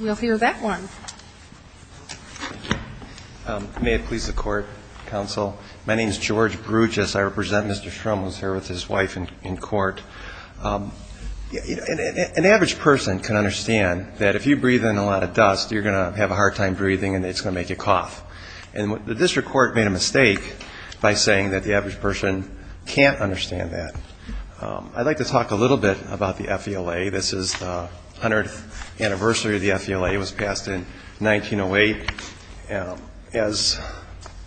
We'll hear that one. May it please the Court, Counsel. My name is George Bruges. I represent Mr. Schrum. He's here with his wife in court. An average person can understand that if you breathe in a lot of dust, you're going to have a hard time breathing and it's going to make you cough. And the District Court made a mistake by saying that the average person can't understand that. I'd like to talk a little bit about the FELA. This is the 100th anniversary of the FELA. It was passed in 1908. As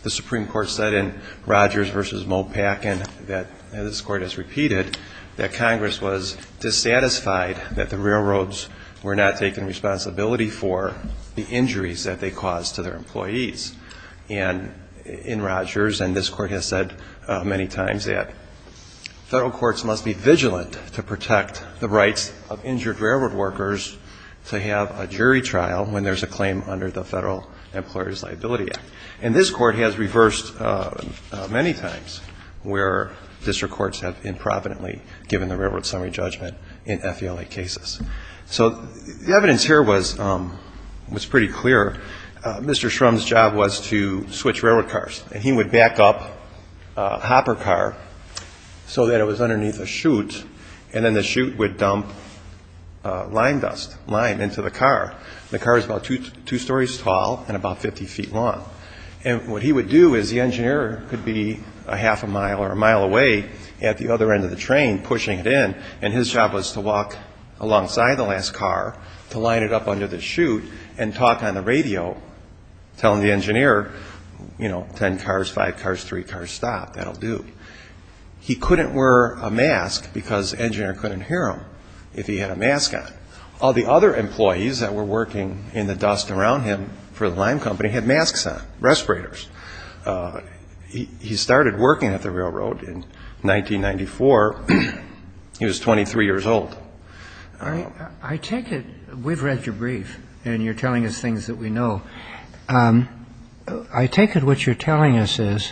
the Supreme Court said in Rogers v. Moe-Packin, that this Court has repeated, that Congress was dissatisfied that the railroads were not taking responsibility for the injuries that they caused to their employees. In Rogers, and this Court has said many times, that federal courts must be vigilant to protect the rights of injured railroad workers to have a jury trial when there's a claim under the Federal Employers' Liability Act. And this Court has reversed many times where District Courts have improvidently given the railroad summary judgment in FELA cases. So the evidence here was pretty clear. Mr. Schrum's job was to switch railroad cars and he would back up a hopper car so that it was underneath a chute and then the chute would dump lime dust, lime, into the car. The car is about two stories tall and about 50 feet long. And what he would do is the engineer could be a half a mile or a mile away at the other end of the train pushing it in and his job was to walk alongside the last car to line it up under the chute and talk on the radio telling the engineer, you know, 10 cars, 5 cars, 3 cars, stop, that'll do. He couldn't wear a mask because the engineer couldn't hear him if he had a mask on. All the other employees that were working in the dust around him for the lime company had masks on, respirators. He started working at the railroad in 1994. He was 23 years old. I take it we've read your brief and you're telling us things that we know. I take it what you're telling us is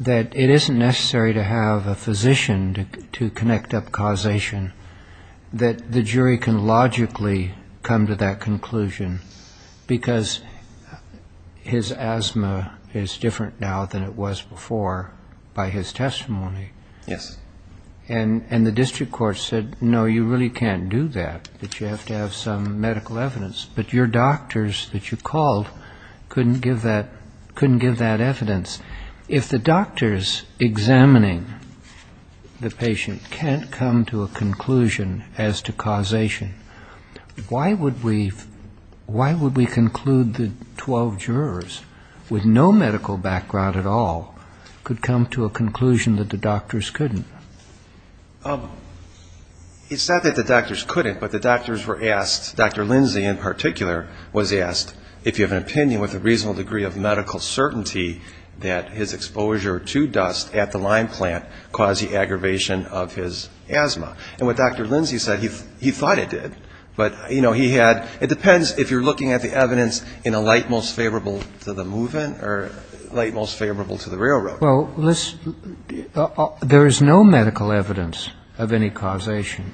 that it isn't necessary to have a physician to connect up causation, that the jury can logically come to that conclusion because his asthma is different now than it was before by his testimony. Yes. And the district court said, no, you really can't do that, that you have to have some couldn't give that evidence. If the doctors examining the patient can't come to a conclusion as to causation, why would we conclude the 12 jurors with no medical background at all could come to a conclusion that the doctors couldn't? It's not that the doctors couldn't, but the doctors were asked, Dr. Lindsay in particular was asked, if you have an opinion with a reasonable degree of medical certainty that his exposure to dust at the lime plant caused the aggravation of his asthma. And what Dr. Lindsay said, he thought it did, but he had, it depends if you're looking at the evidence in a light most favorable to the movement or light most favorable to the railroad. Well, there is no medical evidence of any causation.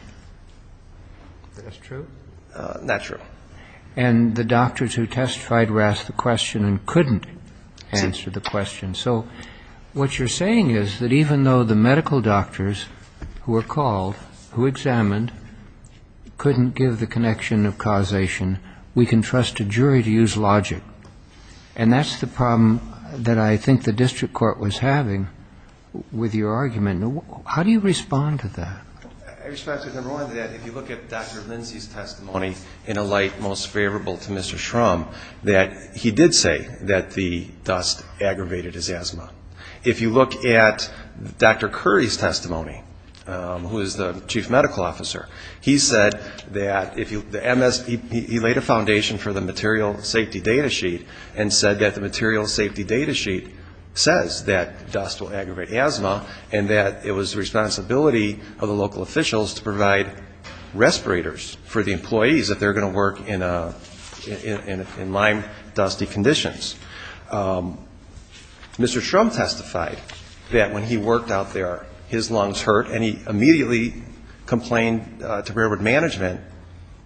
That's true? That's true. And the doctors who testified were asked the question and couldn't answer the question. So what you're saying is that even though the medical doctors who were called, who examined couldn't give the connection of causation, we can trust a jury to use logic. And that's the problem that I think the district court was having with your argument. How do you respond to that? I respond to it in a way that if you look at Dr. Lindsay's testimony in a light most favorable to Mr. Shrum, that he did say that the dust aggravated his asthma. If you look at Dr. Curry's testimony, who is the chief medical officer, he said that if you, the MS, he laid a foundation for the material safety data sheet and said that the material safety data sheet says that dust will aggravate asthma and that it was the local officials to provide respirators for the employees if they're going to work in lime dusty conditions. Mr. Shrum testified that when he worked out there, his lungs hurt and he immediately complained to railroad management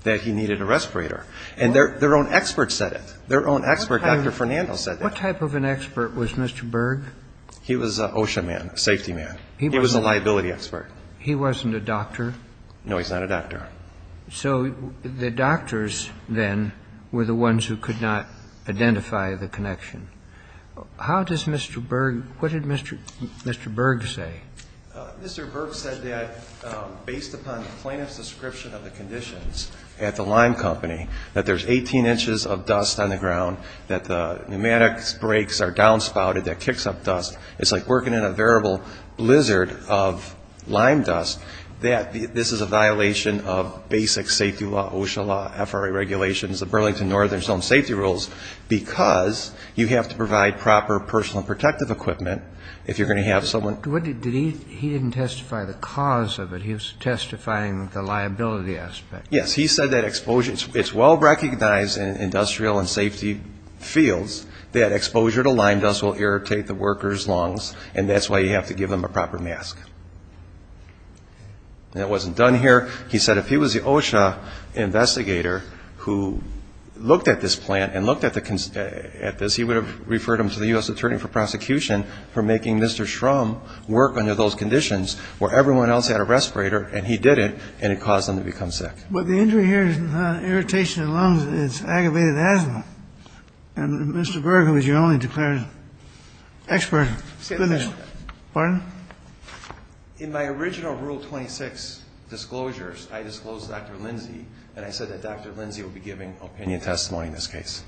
that he needed a respirator. And their own expert said it. Their own expert, Dr. Fernando, said that. What type of an expert was Mr. Berg? He was an OSHA man, a safety man. He was a liability expert. He wasn't a doctor? No, he's not a doctor. So the doctors then were the ones who could not identify the connection. How does Mr. Berg, what did Mr. Berg say? Mr. Berg said that based upon the plaintiff's description of the conditions at the lime company that there's 18 inches of dust on the ground, that the pneumatic brakes are downspouted, that kicks up dust. It's like working in a variable blizzard of lime dust. That this is a violation of basic safety law, OSHA law, FRA regulations, the Burlington Northern Zone safety rules, because you have to provide proper personal protective equipment if you're going to have someone. What did he, he didn't testify the cause of it. He was testifying the liability aspect. Yes. He said that exposure, it's well recognized in industrial and safety fields that exposure to lime dust will irritate the worker's lungs and that's why you have to give them a proper mask. And it wasn't done here. He said if he was the OSHA investigator who looked at this plant and looked at this, he would have referred him to the U.S. Attorney for Prosecution for making Mr. Schrum work under those conditions where everyone else had a respirator and he didn't and it caused them to become sick. But the injury here is not irritation of the lungs, it's aggravated asthma. And Mr. Berg, who was your only declared expert, goodness, pardon? In my original Rule 26 disclosures, I disclosed to Dr. Lindsey and I said that Dr. Lindsey will be giving opinion testimony in this case.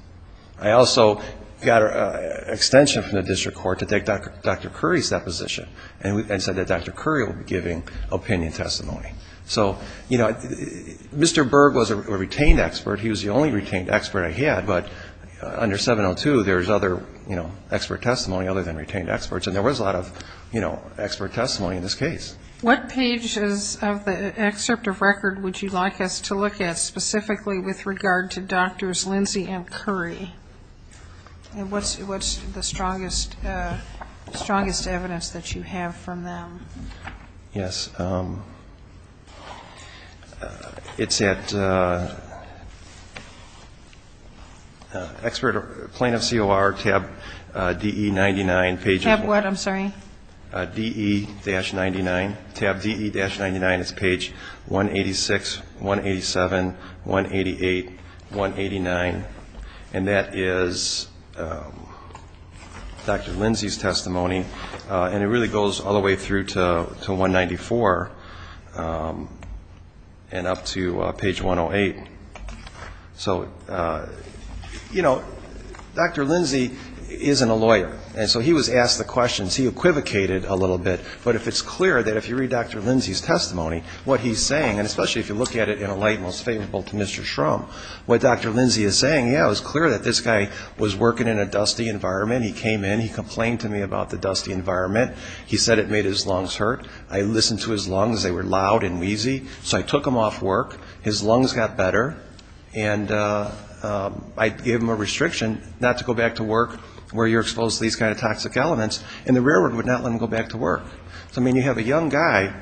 I also got an extension from the district court to take Dr. Curry's deposition and said that Dr. Curry will be giving opinion testimony. So, you know, Mr. Berg was a retained expert. He was the only retained expert I had. But under 702, there's other, you know, expert testimony other than retained experts. And there was a lot of, you know, expert testimony in this case. What pages of the excerpt of record would you like us to look at specifically with regard to Drs. Lindsey and Curry? And what's the strongest evidence that you have from them? Yes. It's at expert plaintiff COR tab DE-99. Tab what? I'm sorry. DE-99. Tab DE-99 is page 186, 187, 188, 189. And that is Dr. Lindsey's testimony. And it really goes all the way through to 194 and up to page 108. So, you know, Dr. Lindsey isn't a lawyer. And so he was asked the questions. He equivocated a little bit. But if it's clear that if you read Dr. Lindsey's testimony, what he's saying, and especially if you look at it in a light most favorable to Mr. Shrum, what Dr. Lindsey is saying, yeah, it was clear that this guy was working in a dusty environment. He came in. He complained to me about the dusty environment. He said it made his lungs hurt. I listened to his lungs. They were loud and wheezy. So I took him off work. His lungs got better. And I gave him a restriction not to go back to work where you're exposed to these kind of toxic elements. And the railroad would not let him go back to work. So, I mean, you have a young guy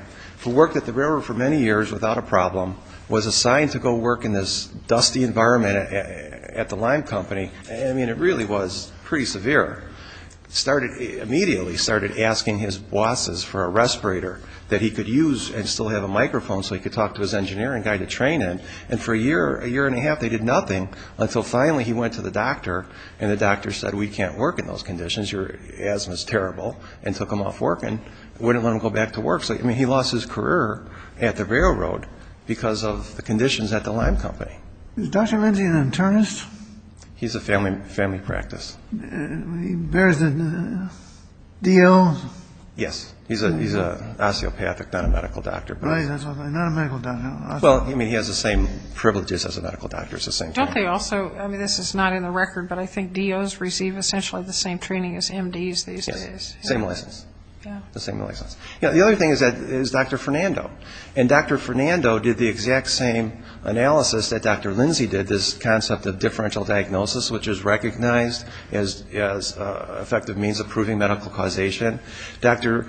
who worked at the railroad for many years without a problem, was assigned to go work in this dusty environment at the lime company. I mean, it really was pretty severe. Immediately started asking his bosses for a respirator that he could use and still have a microphone so he could talk to his engineering guy to train in. And for a year, a year and a half, they did nothing until finally he went to the doctor and the doctor said, we can't work in those conditions. Your asthma is terrible. And took him off work and wouldn't let him go back to work. So, I mean, he lost his career at the railroad because of the conditions at the lime company. Is Dr. Lindsey an internist? He's a family practice. He bears the D.O.? Yes. He's an osteopathic, not a medical doctor. Right. Not a medical doctor. Well, I mean, he has the same privileges as a medical doctor. Don't they also, I mean, this is not in the record, but I think D.O.s receive essentially the same training as M.D.s these days. Same license. Yeah. The same license. The other thing is Dr. Fernando. And Dr. Fernando did the exact same analysis that Dr. Lindsey did, this concept of differential diagnosis, which is recognized as an effective means of proving medical causation. Dr.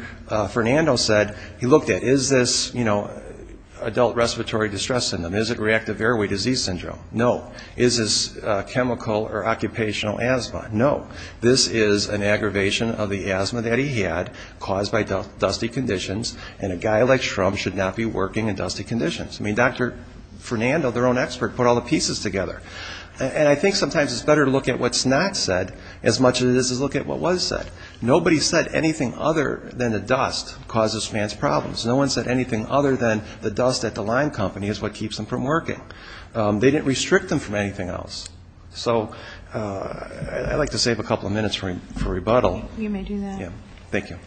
Fernando said, he looked at, is this, you know, adult respiratory distress syndrome? Is it reactive airway disease syndrome? No. Is this chemical or occupational asthma? No. This is an aggravation of the asthma that he had caused by dusty conditions, and a guy like Trump should not be working in dusty conditions. I mean, Dr. Fernando, their own expert, put all the pieces together. And I think sometimes it's better to look at what's not said as much as it is to look at what was said. Nobody said anything other than the dust causes fans problems. No one said anything other than the dust at the line company is what keeps them from working. They didn't restrict them from anything else. So I'd like to save a couple of minutes for rebuttal. You may do that. Yeah. Thank you. Thank you.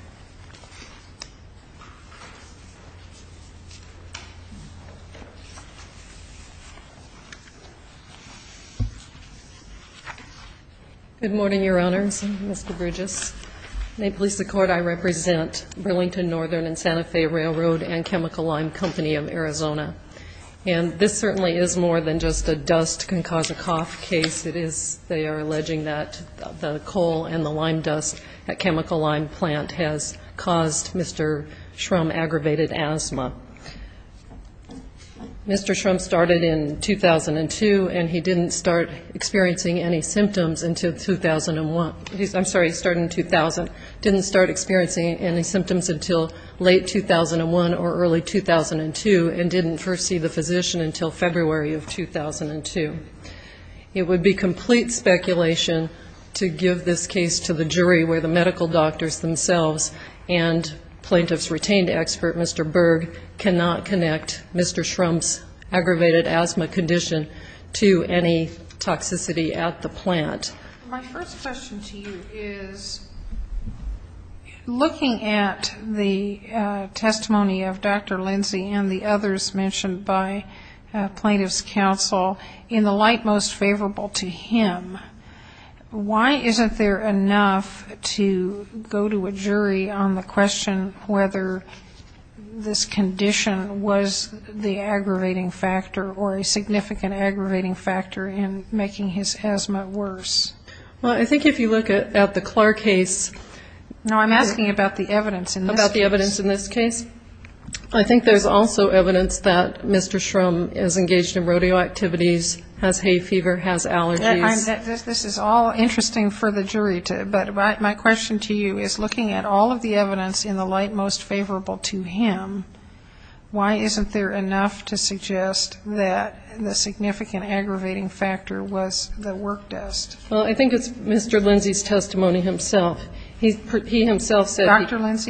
Good morning, Your Honors, Mr. Bridges. May it please the Court, I represent Burlington Northern and Santa Fe Railroad and Chemical Lime Company of Arizona. And this certainly is more than just a dust can cause a cough case. It is, they are alleging that the coal and the lime dust at Chemical Lime Plant has caused Mr. Shrum aggravated asthma. Mr. Shrum started in 2002, and he didn't start experiencing any symptoms until 2001. I'm sorry, he started in 2000. Didn't start experiencing any symptoms until late 2001 or early 2002, and didn't first see the physician until February of 2002. It would be complete speculation to give this case to the jury where the medical doctors themselves and plaintiff's retained expert, Mr. Berg, cannot connect Mr. Shrum's aggravated asthma condition to any toxicity at the plant. My first question to you is, looking at the testimony of Dr. Lindsay and the others mentioned by plaintiff's counsel, in the light most favorable to him, why isn't there enough to go to a jury on the question whether this condition was the aggravating factor or a significant aggravating factor in making his asthma worse? Well, I think if you look at the Clark case. No, I'm asking about the evidence in this case. About the evidence in this case. I think there's also evidence that Mr. Shrum is engaged in rodeo activities, has hay fever, has allergies. This is all interesting for the jury, but my question to you is, looking at all of the evidence in the light most favorable to him, why isn't there enough to suggest that the significant aggravating factor was the work desk? Well, I think it's Mr. Lindsay's testimony himself. He himself said he was.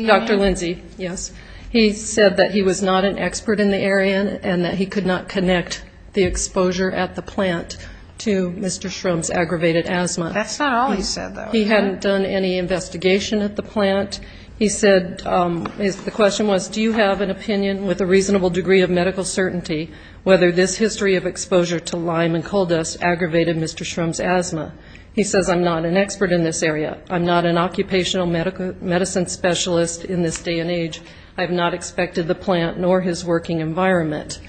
He said that he was not an expert in the area and that he could not connect the exposure at the plant to Mr. Shrum's aggravated asthma. That's not all he said, though. He hadn't done any investigation at the plant. He said the question was, do you have an opinion with a reasonable degree of medical certainty whether this history of exposure to lime and coal dust aggravated Mr. Shrum's asthma? He says, I'm not an expert in this area. I'm not an occupational medicine specialist in this day and age. I have not expected the plant nor his working environment.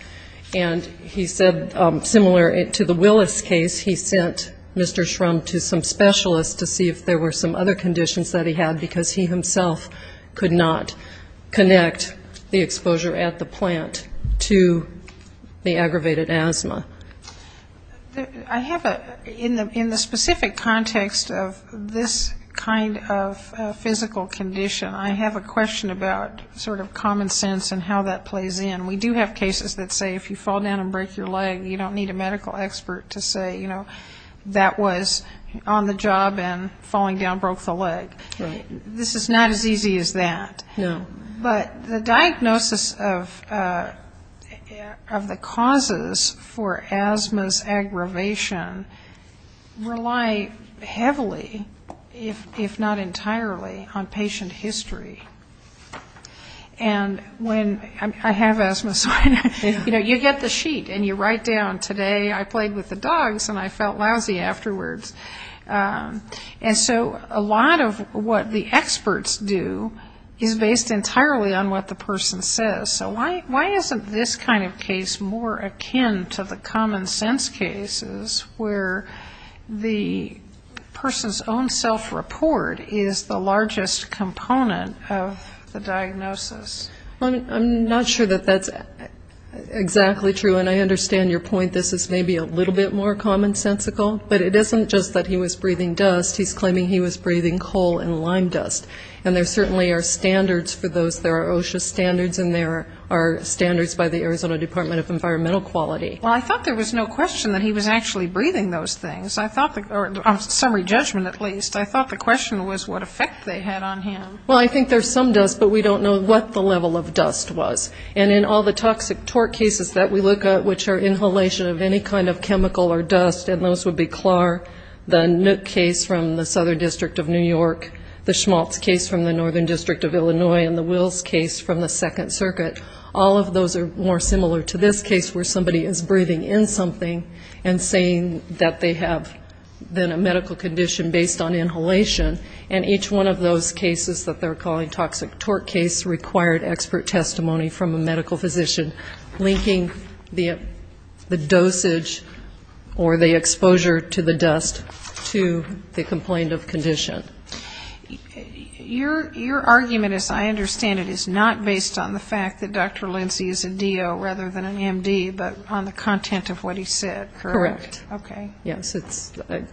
And he said, similar to the Willis case, he sent Mr. Shrum to some specialists to see if there were some other conditions that he had, because he himself could not connect the exposure at the plant to the aggravated asthma. I have a, in the specific context of this kind of physical condition, I have a question about sort of common sense and how that plays in. We do have cases that say if you fall down and break your leg, you don't need a medical expert to say, you know, that was on the job and falling down broke the leg. This is not as easy as that. No. But the diagnosis of the causes for asthma's aggravation rely heavily, if not entirely, on patient history. And when, I have asthma, so, you know, you get the sheet and you write down, today I played with the dogs and I felt lousy afterwards. And so a lot of what the experts do is based entirely on what the person says. So why isn't this kind of case more akin to the common sense cases where the person's own self-report is the largest component of the diagnosis? I'm not sure that that's exactly true. And I understand your point, this is maybe a little bit more commonsensical, but it isn't just that he was breathing dust. He's claiming he was breathing coal and lime dust. And there certainly are standards for those. There are OSHA standards and there are standards by the Arizona Department of Environmental Quality. Well, I thought there was no question that he was actually breathing those things. I thought, on summary judgment at least, I thought the question was what effect they had on him. Well, I think there's some dust, but we don't know what the level of dust was. And in all the toxic tort cases that we look at, which are inhalation of any kind of chemical or dust, and those would be CLAR, the Nook case from the Southern District of New York, the Schmaltz case from the Northern District of Illinois, and the Wills case from the Second Circuit, all of those are more similar to this case where somebody is breathing in something and saying that they have been in a medical condition based on inhalation. And each one of those cases that they're calling toxic tort case required expert testimony from a medical physician linking the dosage or the exposure to the dust to the complained of condition. Your argument, as I understand it, is not based on the fact that Dr. Lindsay is a DO rather than an MD, but on the content of what he said, correct? Correct. Okay. Yes.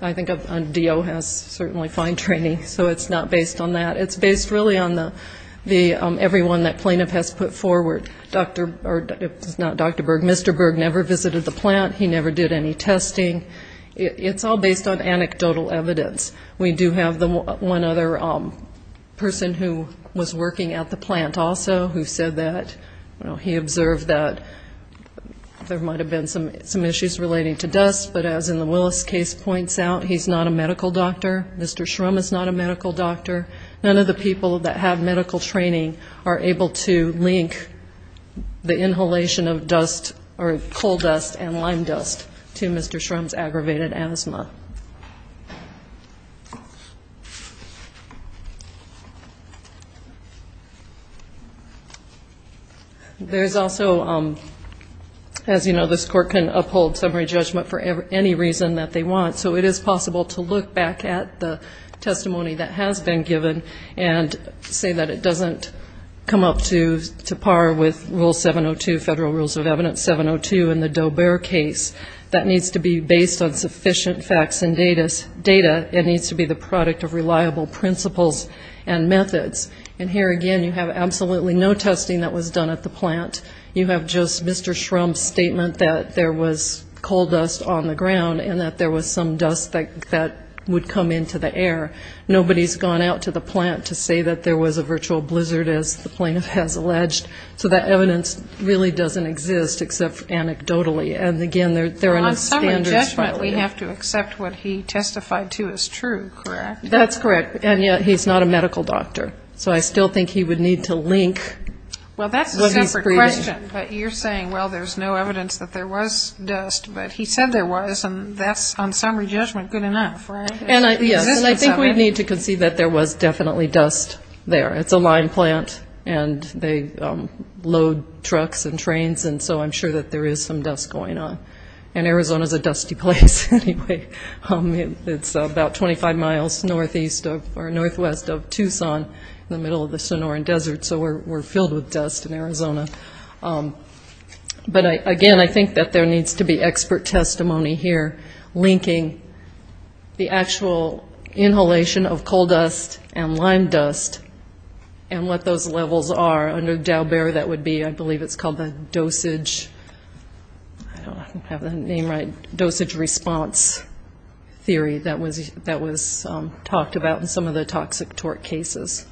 I think a DO has certainly fine training, so it's not based on that. It's based really on the everyone that plaintiff has put forward. It's not Dr. Berg, Mr. Berg never visited the plant, he never did any testing. It's all based on anecdotal evidence. We do have one other person who was working at the plant also who said that, you know, he observed that there might have been some issues relating to dust, but as in the Willis case points out, he's not a medical doctor. Mr. Shrum is not a medical doctor. None of the people that have medical training are able to link the inhalation of dust or coal dust and lime dust to Mr. Shrum's aggravated asthma. There's also, as you know, this court can uphold summary judgment for any reason that they want, so it is possible to look back at the testimony that has been given and say that it doesn't come up to par with Rule 702, Federal Rules of Evidence 702 in the Doe-Bear case. That needs to be based on sufficient facts and data. It needs to be the product of reliable principles and methods. And here again you have absolutely no testing that was done at the plant. You have just Mr. Shrum's statement that there was coal dust on the ground and that there was some dust that would come into the air. Nobody's gone out to the plant to say that there was a virtual blizzard, as the plaintiff has alleged. So that evidence really doesn't exist except anecdotally. And again, there are no standards. On summary judgment we have to accept what he testified to as true, correct? That's correct. And yet he's not a medical doctor. So I still think he would need to link what he's preaching. Well, that's a separate question. But you're saying, well, there's no evidence that there was dust. But he said there was, and that's on summary judgment good enough, right? Yes, and I think we need to concede that there was definitely dust there. It's a line plant, and they load trucks and trains, and so I'm sure that there is some dust going on. And Arizona's a dusty place anyway. It's about 25 miles northwest of Tucson in the middle of the Sonoran Desert, so we're filled with dust in Arizona. But, again, I think that there needs to be expert testimony here linking the actual inhalation of coal dust and lime dust and what those levels are. Under Daubert that would be, I believe it's called the dosage, I don't know if I have the name right, dosage response theory that was talked about in some of the toxic tort cases.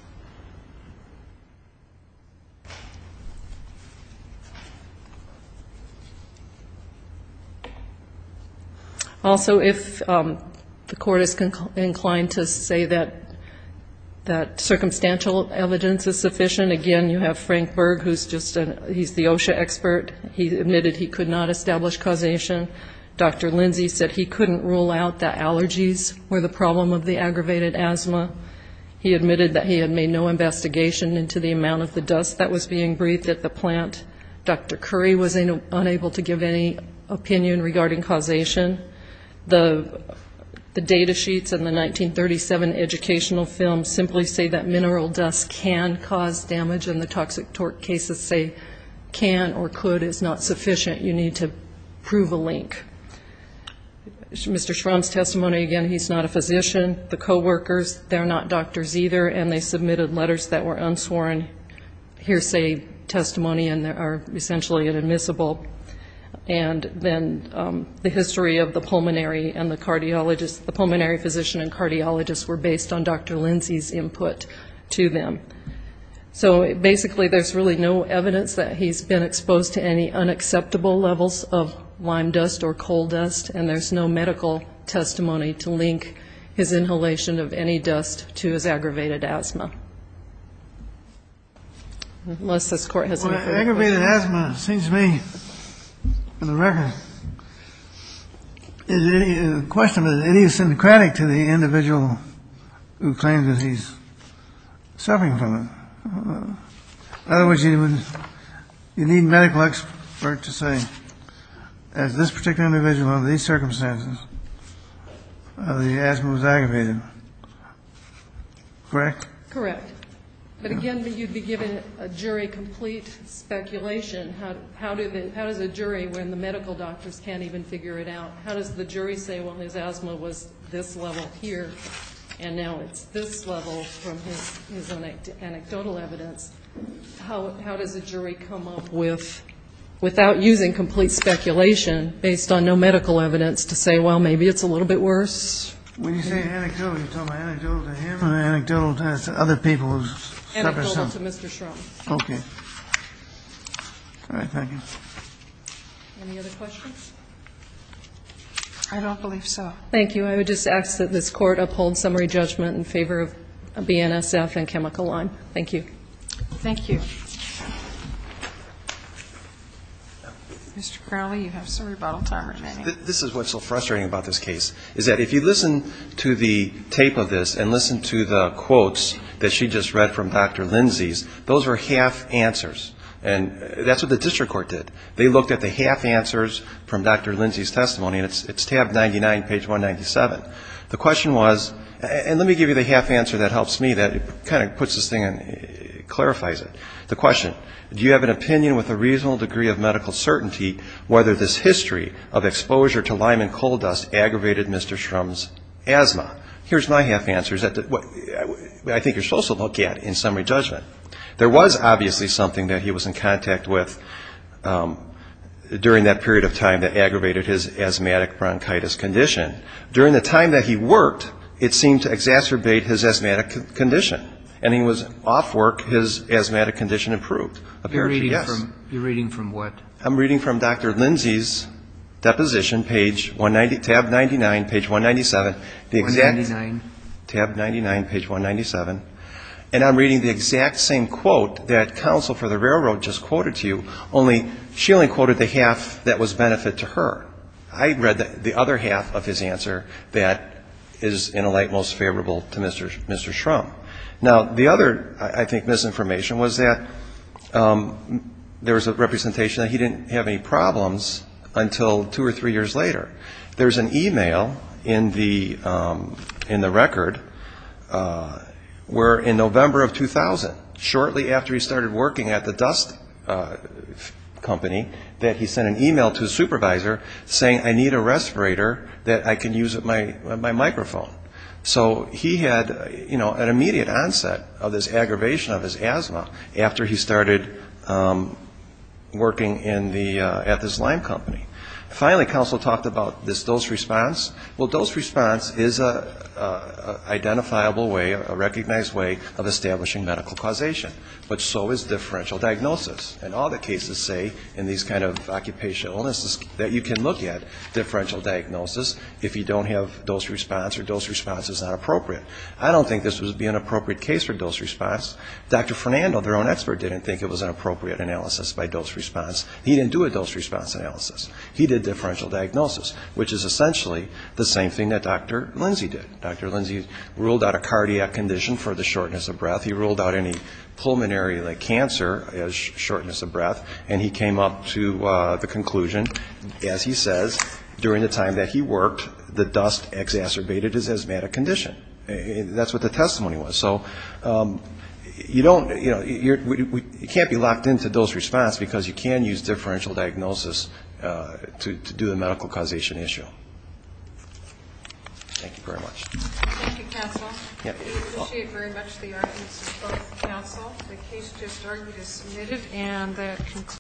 Also, if the court is inclined to say that circumstantial evidence is sufficient, again, you have Frank Berg, he's the OSHA expert, he admitted he could not establish causation. Dr. Lindsay said he couldn't rule out that allergies were the problem of the aggravated asthma. He admitted that he had made no investigation into the amount of the dust that was being breathed at the plant. Dr. Curry was unable to give any opinion regarding causation. The data sheets in the 1937 educational film simply say that mineral dust can cause damage and the toxic tort cases say can or could is not sufficient. You need to prove a link. Mr. Schramm's testimony, again, he's not a physician. The coworkers, they're not doctors either, and they submitted letters that were unsworn hearsay testimony and are essentially inadmissible. And then the history of the pulmonary and the cardiologist, the pulmonary physician and cardiologist were based on Dr. Lindsay's input to them. So basically there's really no evidence that he's been exposed to any unacceptable levels of lime dust or coal dust and there's no medical testimony to link his inhalation of any dust to his aggravated asthma. Unless this Court has any further questions. Aggravated asthma seems to me, on the record, the question is, is it idiosyncratic to the individual who claims that he's suffering from it? In other words, you need medical expert to say, as this particular individual under these circumstances, the asthma was aggravated. Correct? Correct. But again, you'd be giving a jury complete speculation. How does a jury, when the medical doctors can't even figure it out, how does the jury say, well, his asthma was this level here, and now it's this level from his anecdotal evidence? How does a jury come up with, without using complete speculation, based on no medical evidence to say, well, maybe it's a little bit worse? When you say anecdotal, are you talking about anecdotal to him or anecdotal to other people? Anecdotal to Mr. Schrodinger. Okay. All right. Thank you. Any other questions? I don't believe so. Thank you. I would just ask that this Court uphold summary judgment in favor of BNSF and Chemical Line. Thank you. Thank you. Mr. Crowley, you have some rebuttal time remaining. This is what's so frustrating about this case, is that if you listen to the tape of this and listen to the quotes that she just read from Dr. Lindsay's, those were half answers, and that's what the district court did. They looked at the half answers from Dr. Lindsay's testimony, and it's tab 99, page 197. The question was, and let me give you the half answer that helps me, that kind of puts this thing and clarifies it. The question, do you have an opinion with a reasonable degree of medical certainty whether this history of exposure to lime and coal dust aggravated Mr. Shrum's asthma? Here's my half answer. I think you're supposed to look at in summary judgment. There was obviously something that he was in contact with during that period of time that aggravated his asthmatic bronchitis condition. During the time that he worked, it seemed to exacerbate his asthmatic condition, and he was off work, his asthmatic condition improved. You're reading from what? I'm reading from Dr. Lindsay's deposition, tab 99, page 197. Tab 99, page 197. And I'm reading the exact same quote that counsel for the railroad just quoted to you, only she only quoted the half that was benefit to her. I read the other half of his answer that is in a light most favorable to Mr. Shrum. Now, the other, I think, misinformation was that there was a representation that he didn't have any problems until two or three years later. There's an e-mail in the record where in November of 2000, shortly after he started working at the dust company, that he sent an e-mail to his supervisor saying, I need a respirator that I can use at my microphone. So he had, you know, an immediate onset of this aggravation of his asthma after he started working at this lime company. Finally, counsel talked about this dose response. Well, dose response is an identifiable way, a recognized way of establishing medical causation, but so is differential diagnosis. And all the cases say in these kind of occupational illnesses that you can look at differential diagnosis if you don't have dose response or dose response is not appropriate. I don't think this would be an appropriate case for dose response. Dr. Fernando, their own expert, didn't think it was an appropriate analysis by dose response. He didn't do a dose response analysis. He did differential diagnosis, which is essentially the same thing that Dr. Lindsay did. Dr. Lindsay ruled out a cardiac condition for the shortness of breath. He ruled out any pulmonary cancer as shortness of breath. And he came up to the conclusion, as he says, during the time that he worked, the dust exacerbated his asthmatic condition. That's what the testimony was. So you don't, you know, you can't be locked into dose response, because you can use differential diagnosis to do the medical causation issue. Thank you very much. Thank you, counsel. We appreciate very much the arguments of both counsel. The case just argued is submitted.